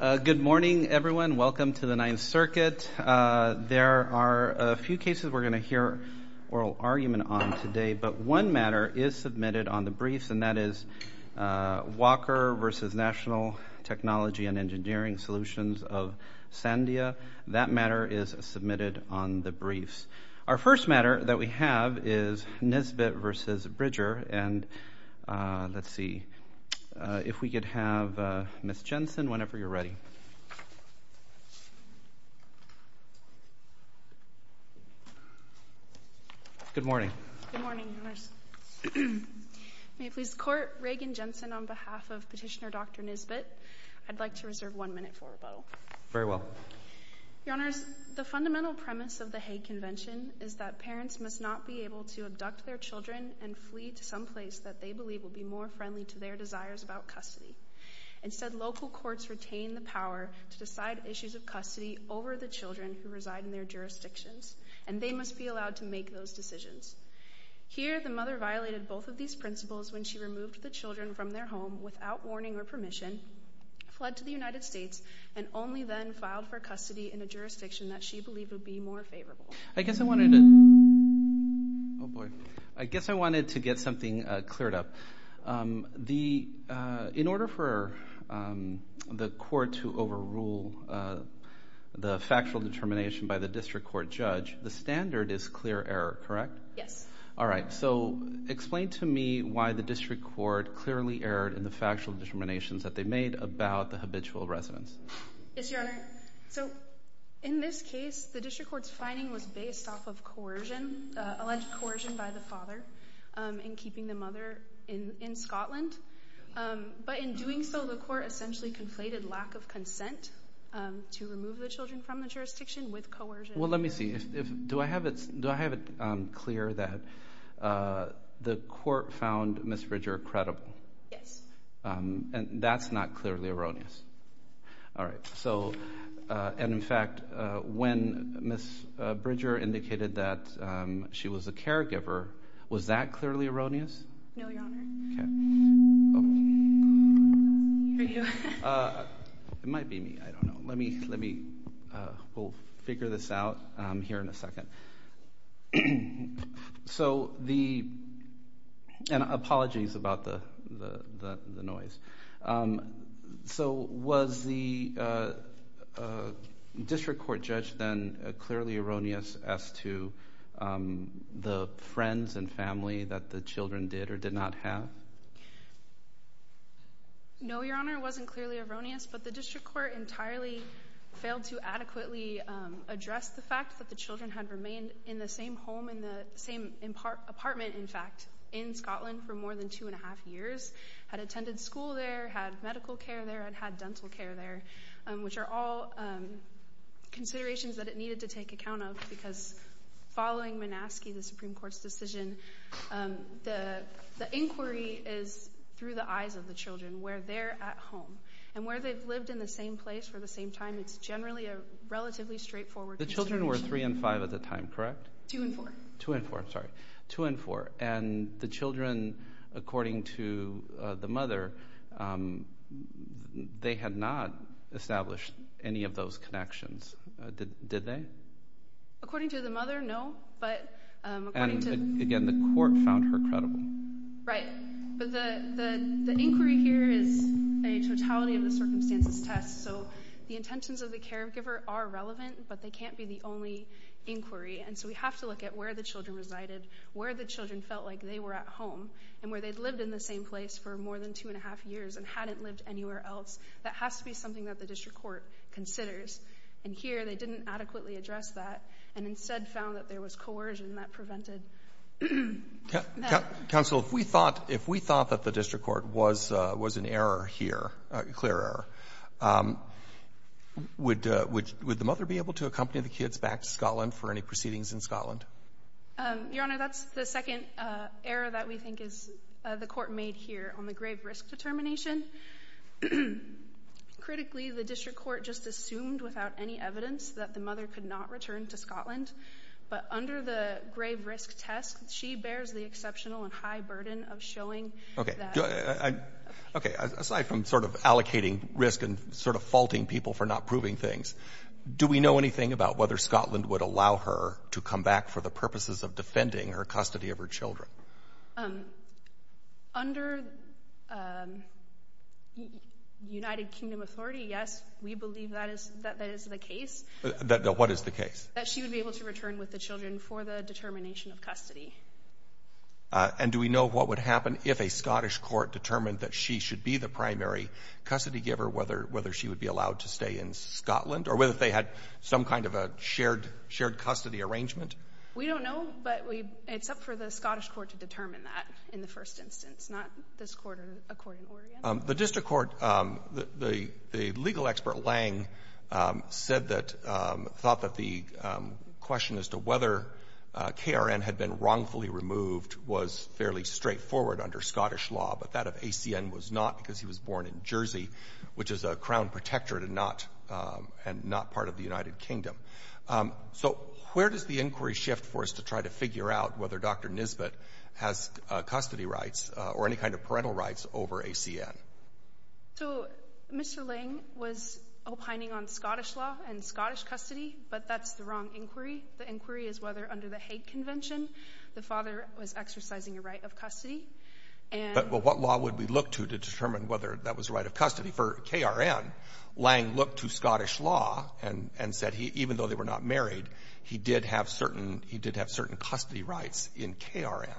Good morning, everyone. Welcome to the Ninth Circuit. There are a few cases we're gonna hear oral argument on today, but one matter is submitted on the briefs, and that is Walker v. National Technology and Engineering Solutions of Sandia. That matter is submitted on the briefs. Our first matter that we have is Nisbet v. Bridger, and let's see if we could have Ms. Jensen, whenever you're ready. Good morning. Good morning, Your Honors. May it please the Court, Reagan Jensen on behalf of Petitioner Dr. Nisbet. I'd like to reserve one minute for rebuttal. Very well. Your Honors, the fundamental premise of the Hague Convention is that parents must not be able to abduct their children and flee to some place that they believe will be more friendly to their desires about custody. Instead, local courts retain the power to decide issues of custody over the children who reside in their jurisdictions, and they must be allowed to make those decisions. Here, the mother violated both of these principles when she removed the children from their home without warning or permission, fled to the United States, and only then filed for custody in a jurisdiction that she believed would be more favorable. I guess I wanted to... Oh, boy. I guess I wanted to get something cleared up. In order for the Court to overrule the factual determination by the District Court judge, the standard is clear error, correct? Yes. All right. So explain to me why the District Court clearly erred in the factual determinations that they made about the habitual residence. Yes, Your Honor. So in this case, the District Court's finding was based off of coercion, alleged coercion by the father in keeping the mother in Scotland. But in doing so, the Court essentially conflated lack of consent to remove the children from the jurisdiction with coercion. Well, let me see. Do I have it clear that the Court found Ms. Ridger credible? Yes. And that's not clearly erroneous. All right. And in fact, when Ms. Ridger indicated that she was a caregiver, was that clearly erroneous? No, Your Honor. It might be me. I don't know. Let me... We'll figure this out here in a second. All right. So the... And apologies about the noise. So was the District Court judge then clearly erroneous as to the friends and family that the children did or did not have? No, Your Honor. It wasn't clearly erroneous, but the District Court entirely failed to adequately address the fact that the children had remained in the same home, in the same apartment, in fact, in Scotland for more than two and a half years, had attended school there, had medical care there, and had dental care there, which are all considerations that it needed to take account of because following Minaski, the Supreme Court's decision, the inquiry is through the eyes of the children, where they're at home. And where they've lived in the same place for the same time, it's generally a relatively straightforward consideration. The children were three and five at the time, correct? Two and four. Two and four. I'm sorry. Two and four. And the children, according to the mother, they had not established any of those connections, did they? According to the mother, no. But according to... And again, the court found her credible. Right. But the inquiry here is a totality of the circumstances test. So the intentions of the caregiver are relevant, but they can't be the only inquiry. And so we have to look at where the children resided, where the children felt like they were at home, and where they'd lived in the same place for more than two and a half years and hadn't lived anywhere else. That has to be something that the District Court considers. And here, they didn't adequately address that and instead found that there was coercion that prevented... Counsel, if we thought that the District Court was an error here, a clear error, would the mother be able to accompany the kids back to Scotland for any proceedings in Scotland? Your Honor, that's the second error that we think is the court made here on the grave risk determination. Critically, the District Court just assumed without any evidence that the mother could not return to Scotland. But under the grave risk test, she bears the exceptional and high burden of showing that... Okay. Aside from sort of allocating risk and sort of faulting people for not proving things, do we know anything about whether Scotland would allow her to come back for the purposes of defending her custody of her children? Under United Kingdom authority, yes, we believe that is the case. What is the case? That she would be able to return with the children for the determination of custody. And do we know what would happen if a Scottish court determined that she should be the primary custody giver, whether she would be allowed to stay in Scotland or whether they had some kind of a shared custody arrangement? We don't know, but it's up for the Scottish court to determine that in the first instance, not this court or a court in Oregon. The District Court, the legal expert Lange said that, thought that the question as to whether KRN had been wrongfully removed was fairly straightforward under Scottish law, but that of ACN was not because he was born in Jersey, which is a Crown protectorate and not part of the United Kingdom. So where does the inquiry shift for us to try to figure out whether Dr. Nisbet has custody rights or any kind of So Mr. Lange was opining on Scottish law and Scottish custody, but that's the wrong inquiry. The inquiry is whether under the Hague Convention, the father was exercising a right of custody. But what law would we look to to determine whether that was a right of custody? For KRN, Lange looked to Scottish law and said he, even though they were not married, he did have certain, he did have certain custody rights in KRN.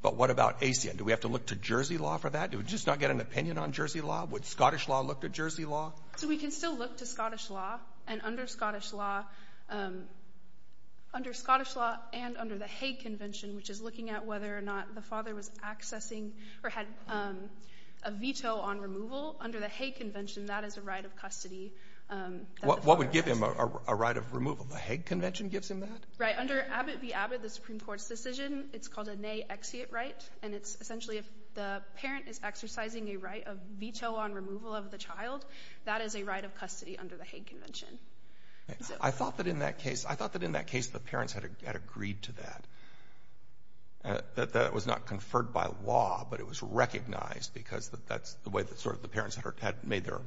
But what about ACN? Do we have to look to law for that? Do we just not get an opinion on Jersey law? Would Scottish law look to Jersey law? So we can still look to Scottish law and under Scottish law, under Scottish law and under the Hague Convention, which is looking at whether or not the father was accessing or had a veto on removal, under the Hague Convention, that is a right of custody. What would give him a right of removal? The Hague Convention gives him that? Right. Under Abbott v. Abbott, the Supreme Court's decision, it's called a nay exeuate right, and it's essentially if the parent is exercising a right of veto on removal of the child, that is a right of custody under the Hague Convention. I thought that in that case, I thought that in that case, the parents had agreed to that. That was not conferred by law, but it was recognized because that's the way that sort of the parents had made their,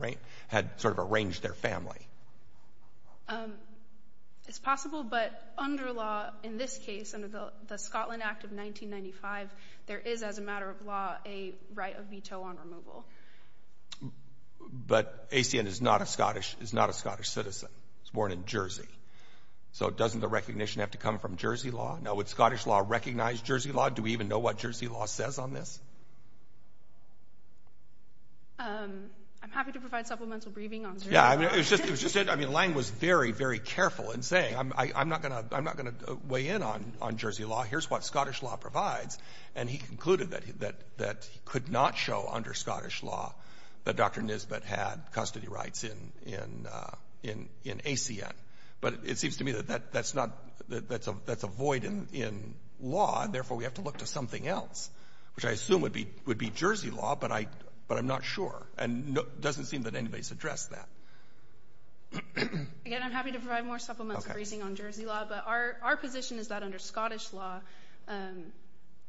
had sort of arranged their family. It's possible, but under law, in this case, under the Scotland Act of 1995, there is as a matter of law, a right of veto on removal. But ACN is not a Scottish, is not a Scottish citizen. It's born in Jersey. So doesn't the recognition have to come from Jersey law? Now, would Scottish law recognize Jersey law? Do we even know what Jersey law says on this? I'm happy to provide supplemental briefing on Jersey law. I mean, it was just, I mean, Lange was very, very careful in saying, I'm not going to, I'm not going to weigh in on Jersey law. Here's what Scottish law provides. And he concluded that he could not show under Scottish law that Dr. Nisbet had custody rights in ACN. But it seems to me that that's not, that's a void in law, and therefore, we have to look to something else, which I assume would be Jersey law, but I'm not sure. And it doesn't seem that anybody's addressed that. Again, I'm happy to provide more supplemental briefing on Jersey law. But our position is that under Scottish law,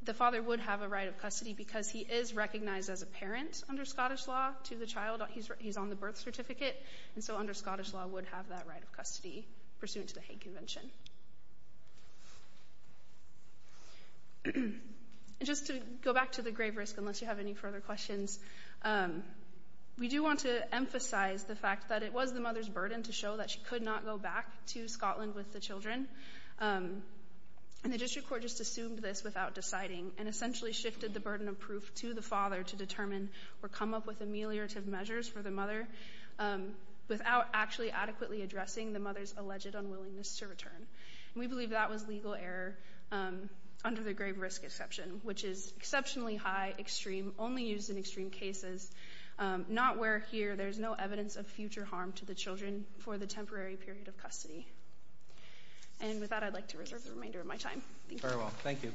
the father would have a right of custody because he is recognized as a parent under Scottish law to the child. He's on the birth certificate. And so under Scottish law, would have that right of custody pursuant to the Hague Convention. Just to go back to the grave risk, unless you have any further questions, we do want to emphasize the fact that it was the mother's burden to show that she could not go back to Scotland with the children. And the district court just assumed this without deciding and essentially shifted the burden of proof to the father to determine or come up with ameliorative measures for the mother without actually adequately addressing the mother's alleged unwillingness to return. And we believe that was legal error under the grave risk exception, which is exceptionally high, extreme, only used in extreme cases, not where here there's no evidence of future harm to the children for the temporary period of custody. And with that, I'd like to reserve the remainder of my time. Thank you. Very well. Thank you.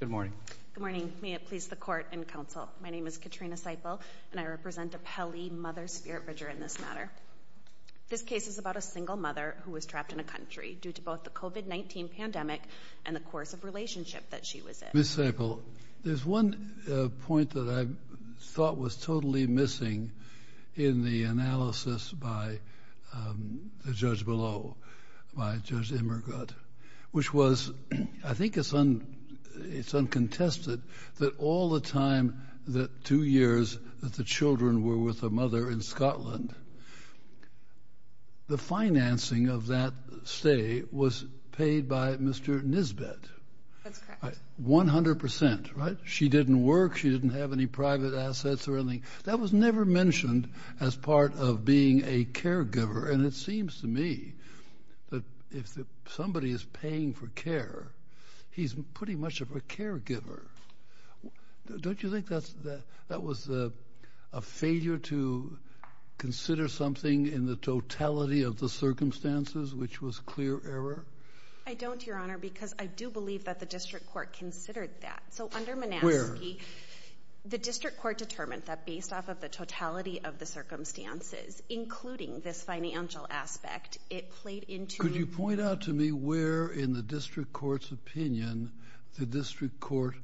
Good morning. Good morning. May it please the court and counsel. My name is Katrina Seipel, and I represent a Pele mother, Spirit Bridger, in this matter. This case is about a single mother who was trapped in a country due to both the COVID-19 pandemic and the course of relationship that she was in. Ms. Seipel, there's one point that I thought was totally missing in the analysis by the judge below, by Judge Emmergut, which was, I think it's uncontested that all the time that two years that the children were with a mother in Scotland, the financing of that stay was paid by Mr. Nisbet. That's correct. 100%, right? She didn't work. She didn't have any private assets or anything. That was never mentioned as part of being a caregiver. And it seems to me that if somebody is paying for care, he's pretty much of a caregiver. Don't you think that was a failure to consider something in the totality of the circumstances, which was clear error? I don't, Your Honor, because I do believe that the district court considered that. So under Manaski, the district court determined that based off of the totality of the circumstances, including this financial aspect, it played into... Could you point out to me where in the district court's opinion the district court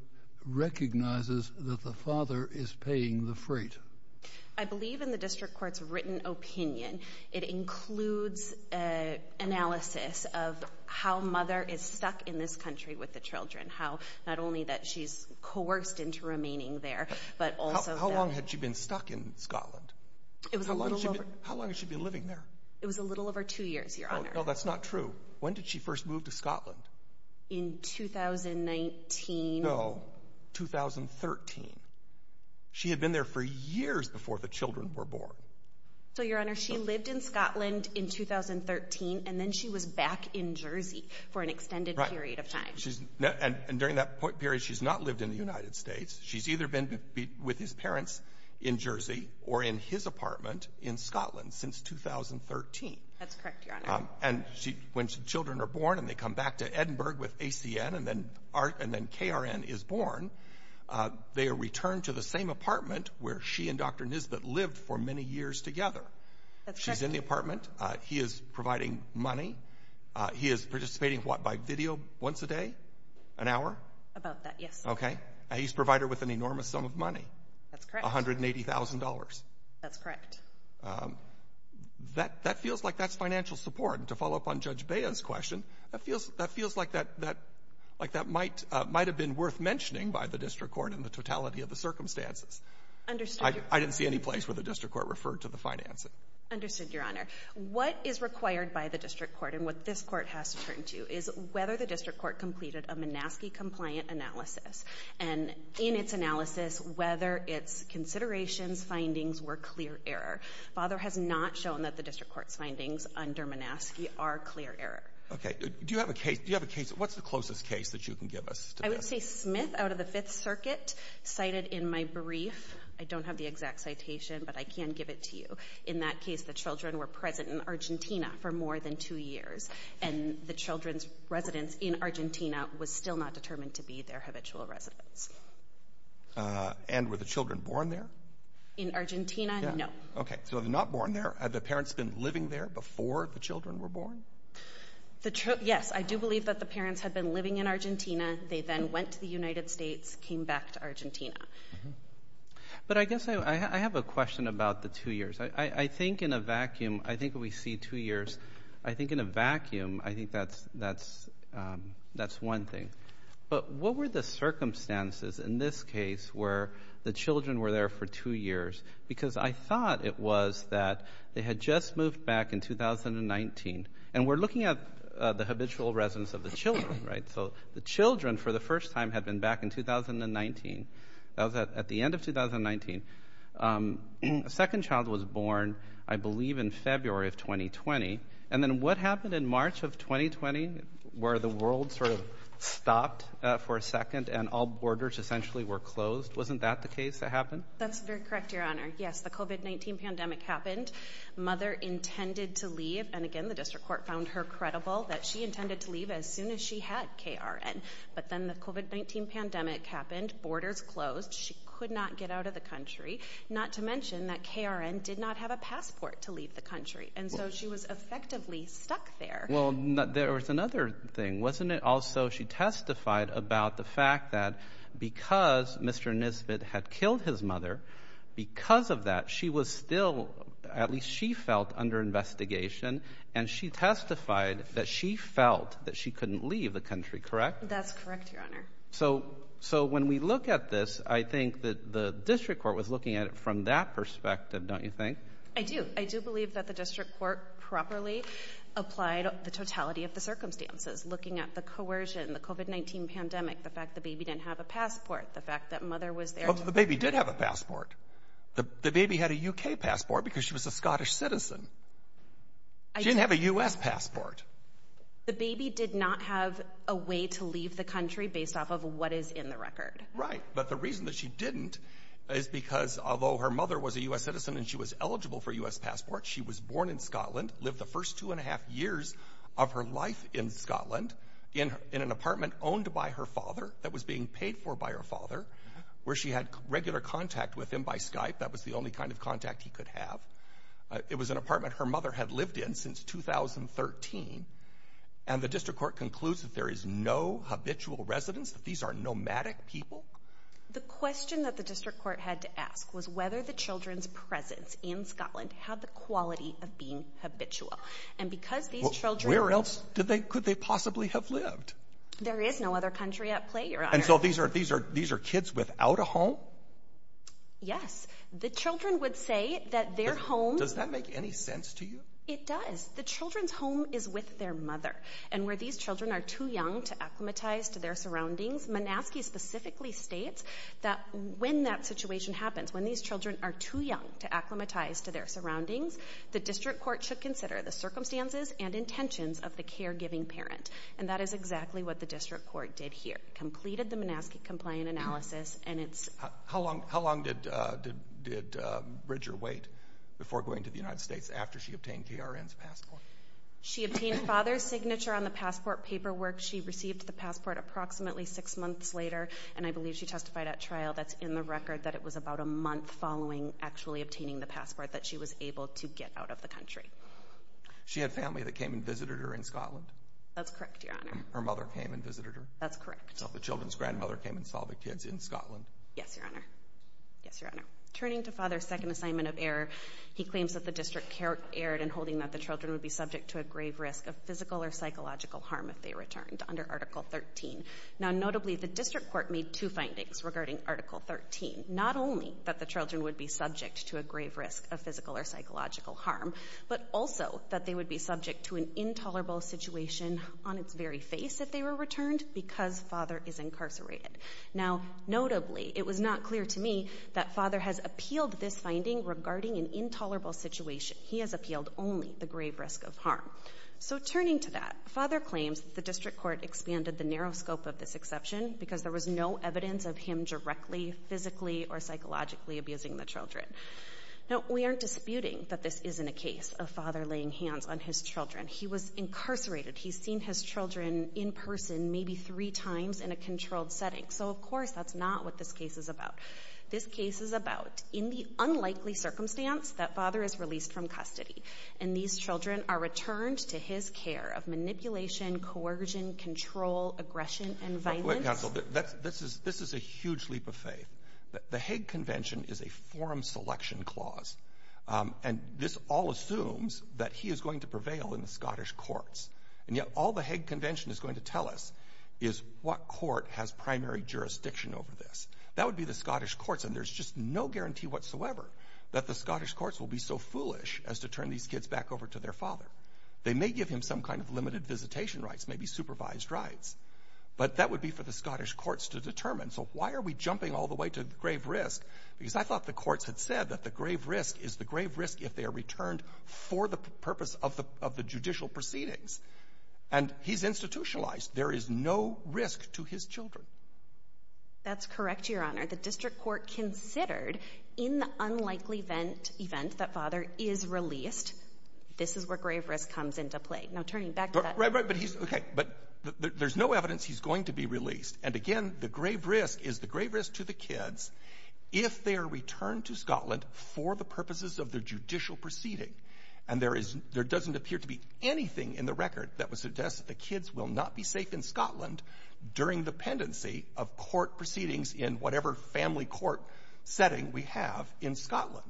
recognizes that the father is paying the freight? I believe in the district court's written opinion. It includes analysis of how mother is stuck in this country with the children, how not only that she's coerced into remaining there, but also... How long had she been stuck in Scotland? How long has she been living there? It was a little over two years, Your Honor. No, that's not true. When did she first move to Scotland? In 2019. No, 2013. She had been there for years before the children were born. So, Your Honor, she lived in Scotland in 2013, and then she was back in Jersey for an extended period of time. And during that period, she's not lived in the United States. She's either been with his parents in Jersey or in his apartment in Scotland since 2013. That's correct, Your Honor. And when children are born, and they come back to Edinburgh with ACN, and then KRN is born, they are returned to the same apartment where she and Dr. Nisbet lived for many years together. She's in the apartment. He is providing money. He is participating, what, by video once a day, an hour? About that, yes. Okay. He's provided with an enormous sum of money. That's correct. $180,000. That's correct. That feels like that's financial support. And to follow up on Judge Bea's question, that feels like that might have been worth mentioning by the district court in the totality of the circumstances. I didn't see any place where the district court referred to the financing. Understood, Your Honor. What is required by the district court, and what this court has to turn to, is whether the district court completed a Minaski-compliant analysis. And in its analysis, whether its considerations, findings were clear error. Father has not shown that the district court's findings under Minaski are clear error. Okay. Do you have a case? What's the closest case that you can give us to this? I would say Smith out of the Fifth Circuit cited in my brief. I don't have the exact citation, but I can give it to you. In that case, the children were present in Argentina for more than two years, and the children's residence in Argentina was still not determined to be their habitual residence. And were the children born there? In Argentina, no. Okay. So they're not born there. Had the parents been living there before the children were born? Yes. I do believe that the parents had been living in Argentina. They then went to the United States, came back to Argentina. But I guess I have a question about the two years. I think in a vacuum, I think we see two years. I think in a vacuum, I think that's that's that's one thing. But what were the circumstances in this case where the children were there for two years? Because I thought it was that they had just moved back in 2019. And we're looking at the habitual residence of the children, right? So the children, for the first time, had been back in 2019. That was at the end of 2019. A second child was born, I believe, in February of 2020. And then what happened in March of 2020, where the world sort of stopped for a second and all borders essentially were closed? Wasn't that the case that happened? That's very correct, Your Honor. Yes, the COVID-19 pandemic happened. Mother intended to leave. And again, the district court found her credible that she intended to leave as soon as she had KRN. But then the COVID-19 pandemic happened, borders closed, she could not get out of the country, not to mention that KRN did not have a passport to leave the country. And so she was effectively stuck there. Well, there was another thing, wasn't it? Also, she testified about the fact that because Mr. Nisbet had killed his mother, because of that, she was still, at least she felt, under investigation. And she testified that she felt that she couldn't leave the country, correct? That's correct, Your Honor. So when we look at this, I think that the district court was looking at it from that perspective, don't you think? I do. I do believe that the district court properly applied the totality of the circumstances, looking at the coercion, the COVID-19 pandemic, the fact the baby didn't have a passport, the fact that mother was there. The baby did have a passport. The baby had a UK passport because she was a Scottish citizen. She didn't have a US passport. The baby did not have a way to leave the country based off of what is in the record. Right. But the reason that she didn't is because although her mother was a US citizen and she was eligible for a US passport, she was born in Scotland, lived the first two and a half years of her life in Scotland in an apartment owned by her father that was being paid for by her father, where she had regular contact with him by Skype. That was the only kind of contact he could have. It was an apartment her had lived in since 2013. And the district court concludes that there is no habitual residence, that these are nomadic people. The question that the district court had to ask was whether the children's presence in Scotland had the quality of being habitual. And because these children... Where else could they possibly have lived? There is no other country at play, your honor. And so these are kids without a home? Yes. The children would say that their home... Does that make any sense to you? It does. The children's home is with their mother. And where these children are too young to acclimatize to their surroundings, Monaskey specifically states that when that situation happens, when these children are too young to acclimatize to their surroundings, the district court should consider the circumstances and intentions of the caregiving parent. And that is exactly what the district court did here. Completed the Monaskey complaint analysis and it's... How long did Bridger wait before going to the United States after she obtained K.R.N.'s passport? She obtained father's signature on the passport paperwork. She received the passport approximately six months later. And I believe she testified at trial that's in the record that it was about a month following actually obtaining the passport that she was able to get out of the country. She had family that came and visited her in Scotland? That's correct, Your Honor. Her mother came and visited her? That's correct. So the children's grandmother came and saw the kids in Scotland? Yes, Your Honor. Yes, Your Honor. Turning to father's second assignment of error, he claims that the district erred in holding that the children would be subject to a grave risk of physical or psychological harm if they returned under Article 13. Now notably, the district court made two findings regarding Article 13. Not only that the children would be subject to a grave risk of physical or psychological harm, but also that they would be subject to an intolerable situation on its very face if they were returned because father is incarcerated. Now notably, it was not clear to me that father has appealed this finding regarding an intolerable situation. He has appealed only the grave risk of harm. So turning to that, father claims the district court expanded the narrow scope of this exception because there was no evidence of him directly, physically, or psychologically abusing the children. Now we aren't disputing that this isn't a case of father laying hands on his children. He was incarcerated. He's seen his children in person maybe three times in a controlled setting. So of course that's not what this case is about. This case is about in the unlikely circumstance that father is released from custody and these children are returned to his care of manipulation, coercion, control, aggression, and violence. Wait, counsel. This is a huge leap of faith. The Hague Convention is a forum selection clause and this all assumes that he is going to prevail in the Scottish courts. And yet all the Hague Convention is going to tell us is what court has primary jurisdiction over this. That would be the Scottish courts and there's just no guarantee whatsoever that the Scottish courts will be so foolish as to turn these kids back over to their father. They may give him some kind of limited visitation rights, maybe supervised rights, but that would be for the Scottish courts to determine. So why are we jumping all the way to grave risk? Because I thought the courts had said that the grave risk is the grave risk if they are returned for the purpose of the judicial proceedings. And he's institutionalized. There is no risk to his children. That's correct, Your Honor. The district court considered in the unlikely event that father is released, this is where grave risk comes into play. Now, turning back to that. Right, right. But there's no evidence he's going to be released. And again, the grave risk is the grave risk to the kids if they are returned to Scotland for the purposes of the judicial proceeding. And there is — there doesn't appear to be anything in the record that would suggest that the kids will not be safe in Scotland during the pendency of court proceedings in whatever family court setting we have in Scotland.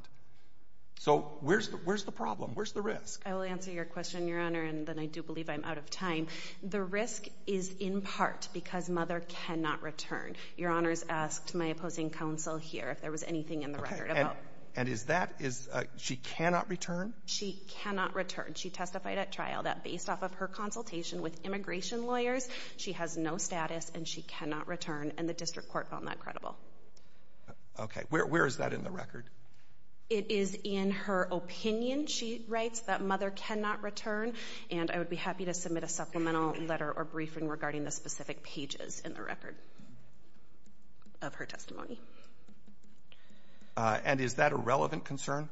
So where's the — where's the problem? Where's the risk? I will answer your question, Your Honor, and then I do believe I'm out of time. The risk is in part because mother cannot return. Your Honor's asked my opposing counsel here if there was anything in the record about — And is that — she cannot return? She cannot return. She testified at trial that based off of her consultation with immigration lawyers, she has no status and she cannot return, and the district court found that credible. Okay. Where is that in the record? It is in her opinion, she writes, that mother cannot return, and I would be happy to submit a supplemental letter or briefing regarding the specific pages in the record of her testimony. And is that a relevant concern?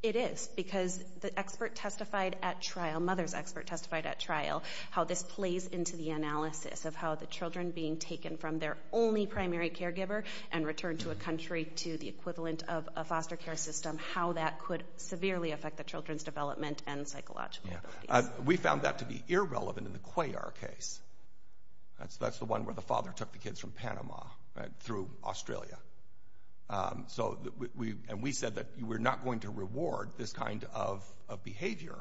It is, because the expert testified at trial — mother's expert testified at trial — how this plays into the analysis of how the children being taken from their only primary caregiver and returned to a country to the equivalent of a foster care system, how that could severely affect the children's development and psychological abilities. We found that to be irrelevant in the Cuellar case. That's the one where the father took the kids from Panama through Australia. And we said that we're not going to reward this kind of behavior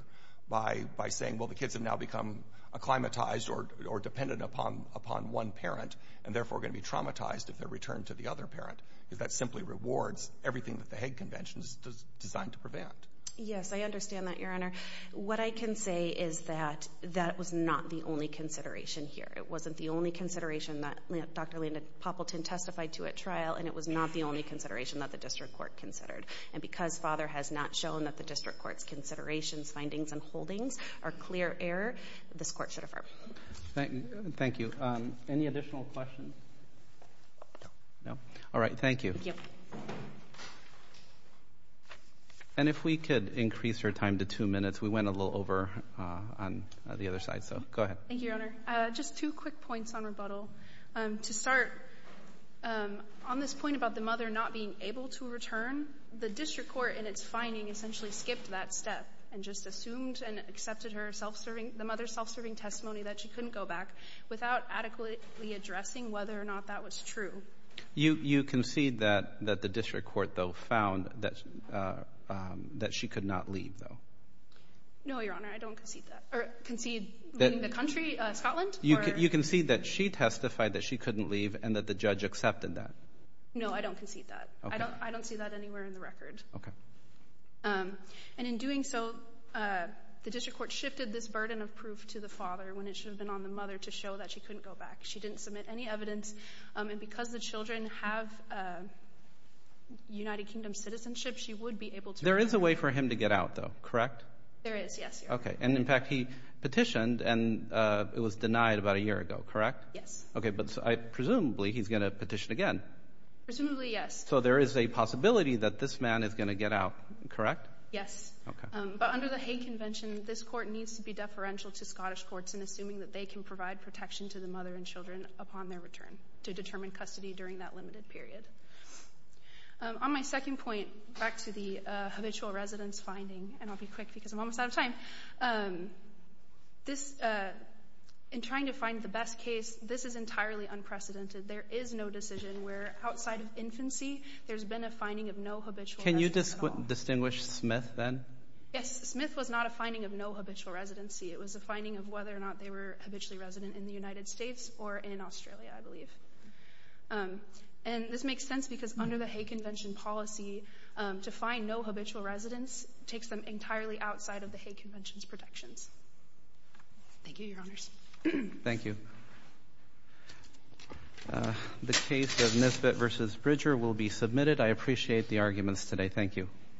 by saying, well, the kids have now become acclimatized or dependent upon one parent and therefore are going to be traumatized if they're returned to the other parent, because that simply rewards everything that the Hague Convention is designed to prevent. Yes, I understand that, Your Honor. What I can say is that that was not the only consideration here. It wasn't the only consideration that Dr. Linda Poppleton testified to at trial, and it was not the only consideration that the district court considered. And because father has not shown that the district court's considerations, findings, and holdings are clear error, this court should affirm. Thank you. Any additional questions? No. All right. Thank you. And if we could increase your time to two minutes. We went a little over on the other side, so go ahead. Thank you, Your Honor. Just two quick points on rebuttal. To start, on this point about the mother not being able to return, the district court in its finding essentially skipped that step and just assumed and accepted her self-serving, the mother's self-serving testimony that she couldn't go back without adequately addressing whether or not that was true. You concede that the district court, though, found that she could not leave, though? No, Your Honor. I don't concede that. Or concede the country, Scotland? You concede that she testified that she couldn't leave and that the judge accepted that? No, I don't concede that. I don't see that anywhere in the record. And in doing so, the district court shifted this burden of proof to the father when it should have been on the mother to show that she couldn't go back. She didn't submit any evidence. And because the children have United Kingdom citizenship, she would be able to return. There is a way for him to get out, though, correct? There is, yes, Your Honor. Okay. And in fact, he petitioned and it was denied about a year ago, correct? Yes. Okay. But presumably, he's going to petition again. Presumably, yes. So there is a possibility that this man is going to get out, correct? Yes. But under the Hague Convention, this court needs to be deferential to Scottish courts in assuming that they can provide protection to the mother and children upon their return to determine custody during that limited period. On my second point, back to the habitual residence finding, and I'll be quick because I'm almost out of time. In trying to find the best case, this is entirely unprecedented. There is no decision where outside of infancy, there's been a finding of no habitual residence at all. Can you distinguish Smith, then? Yes. Smith was not a finding of no habitual residency. It was a finding of whether or not they were habitually resident in the United States or in Australia, I believe. And this makes sense because under the Hague Convention policy, to find no habitual residence takes them entirely outside of the Hague Convention's protections. Thank you, Your Honors. Thank you. The case of Nisbet v. Bridger will be submitted. I appreciate the arguments today. Thank you.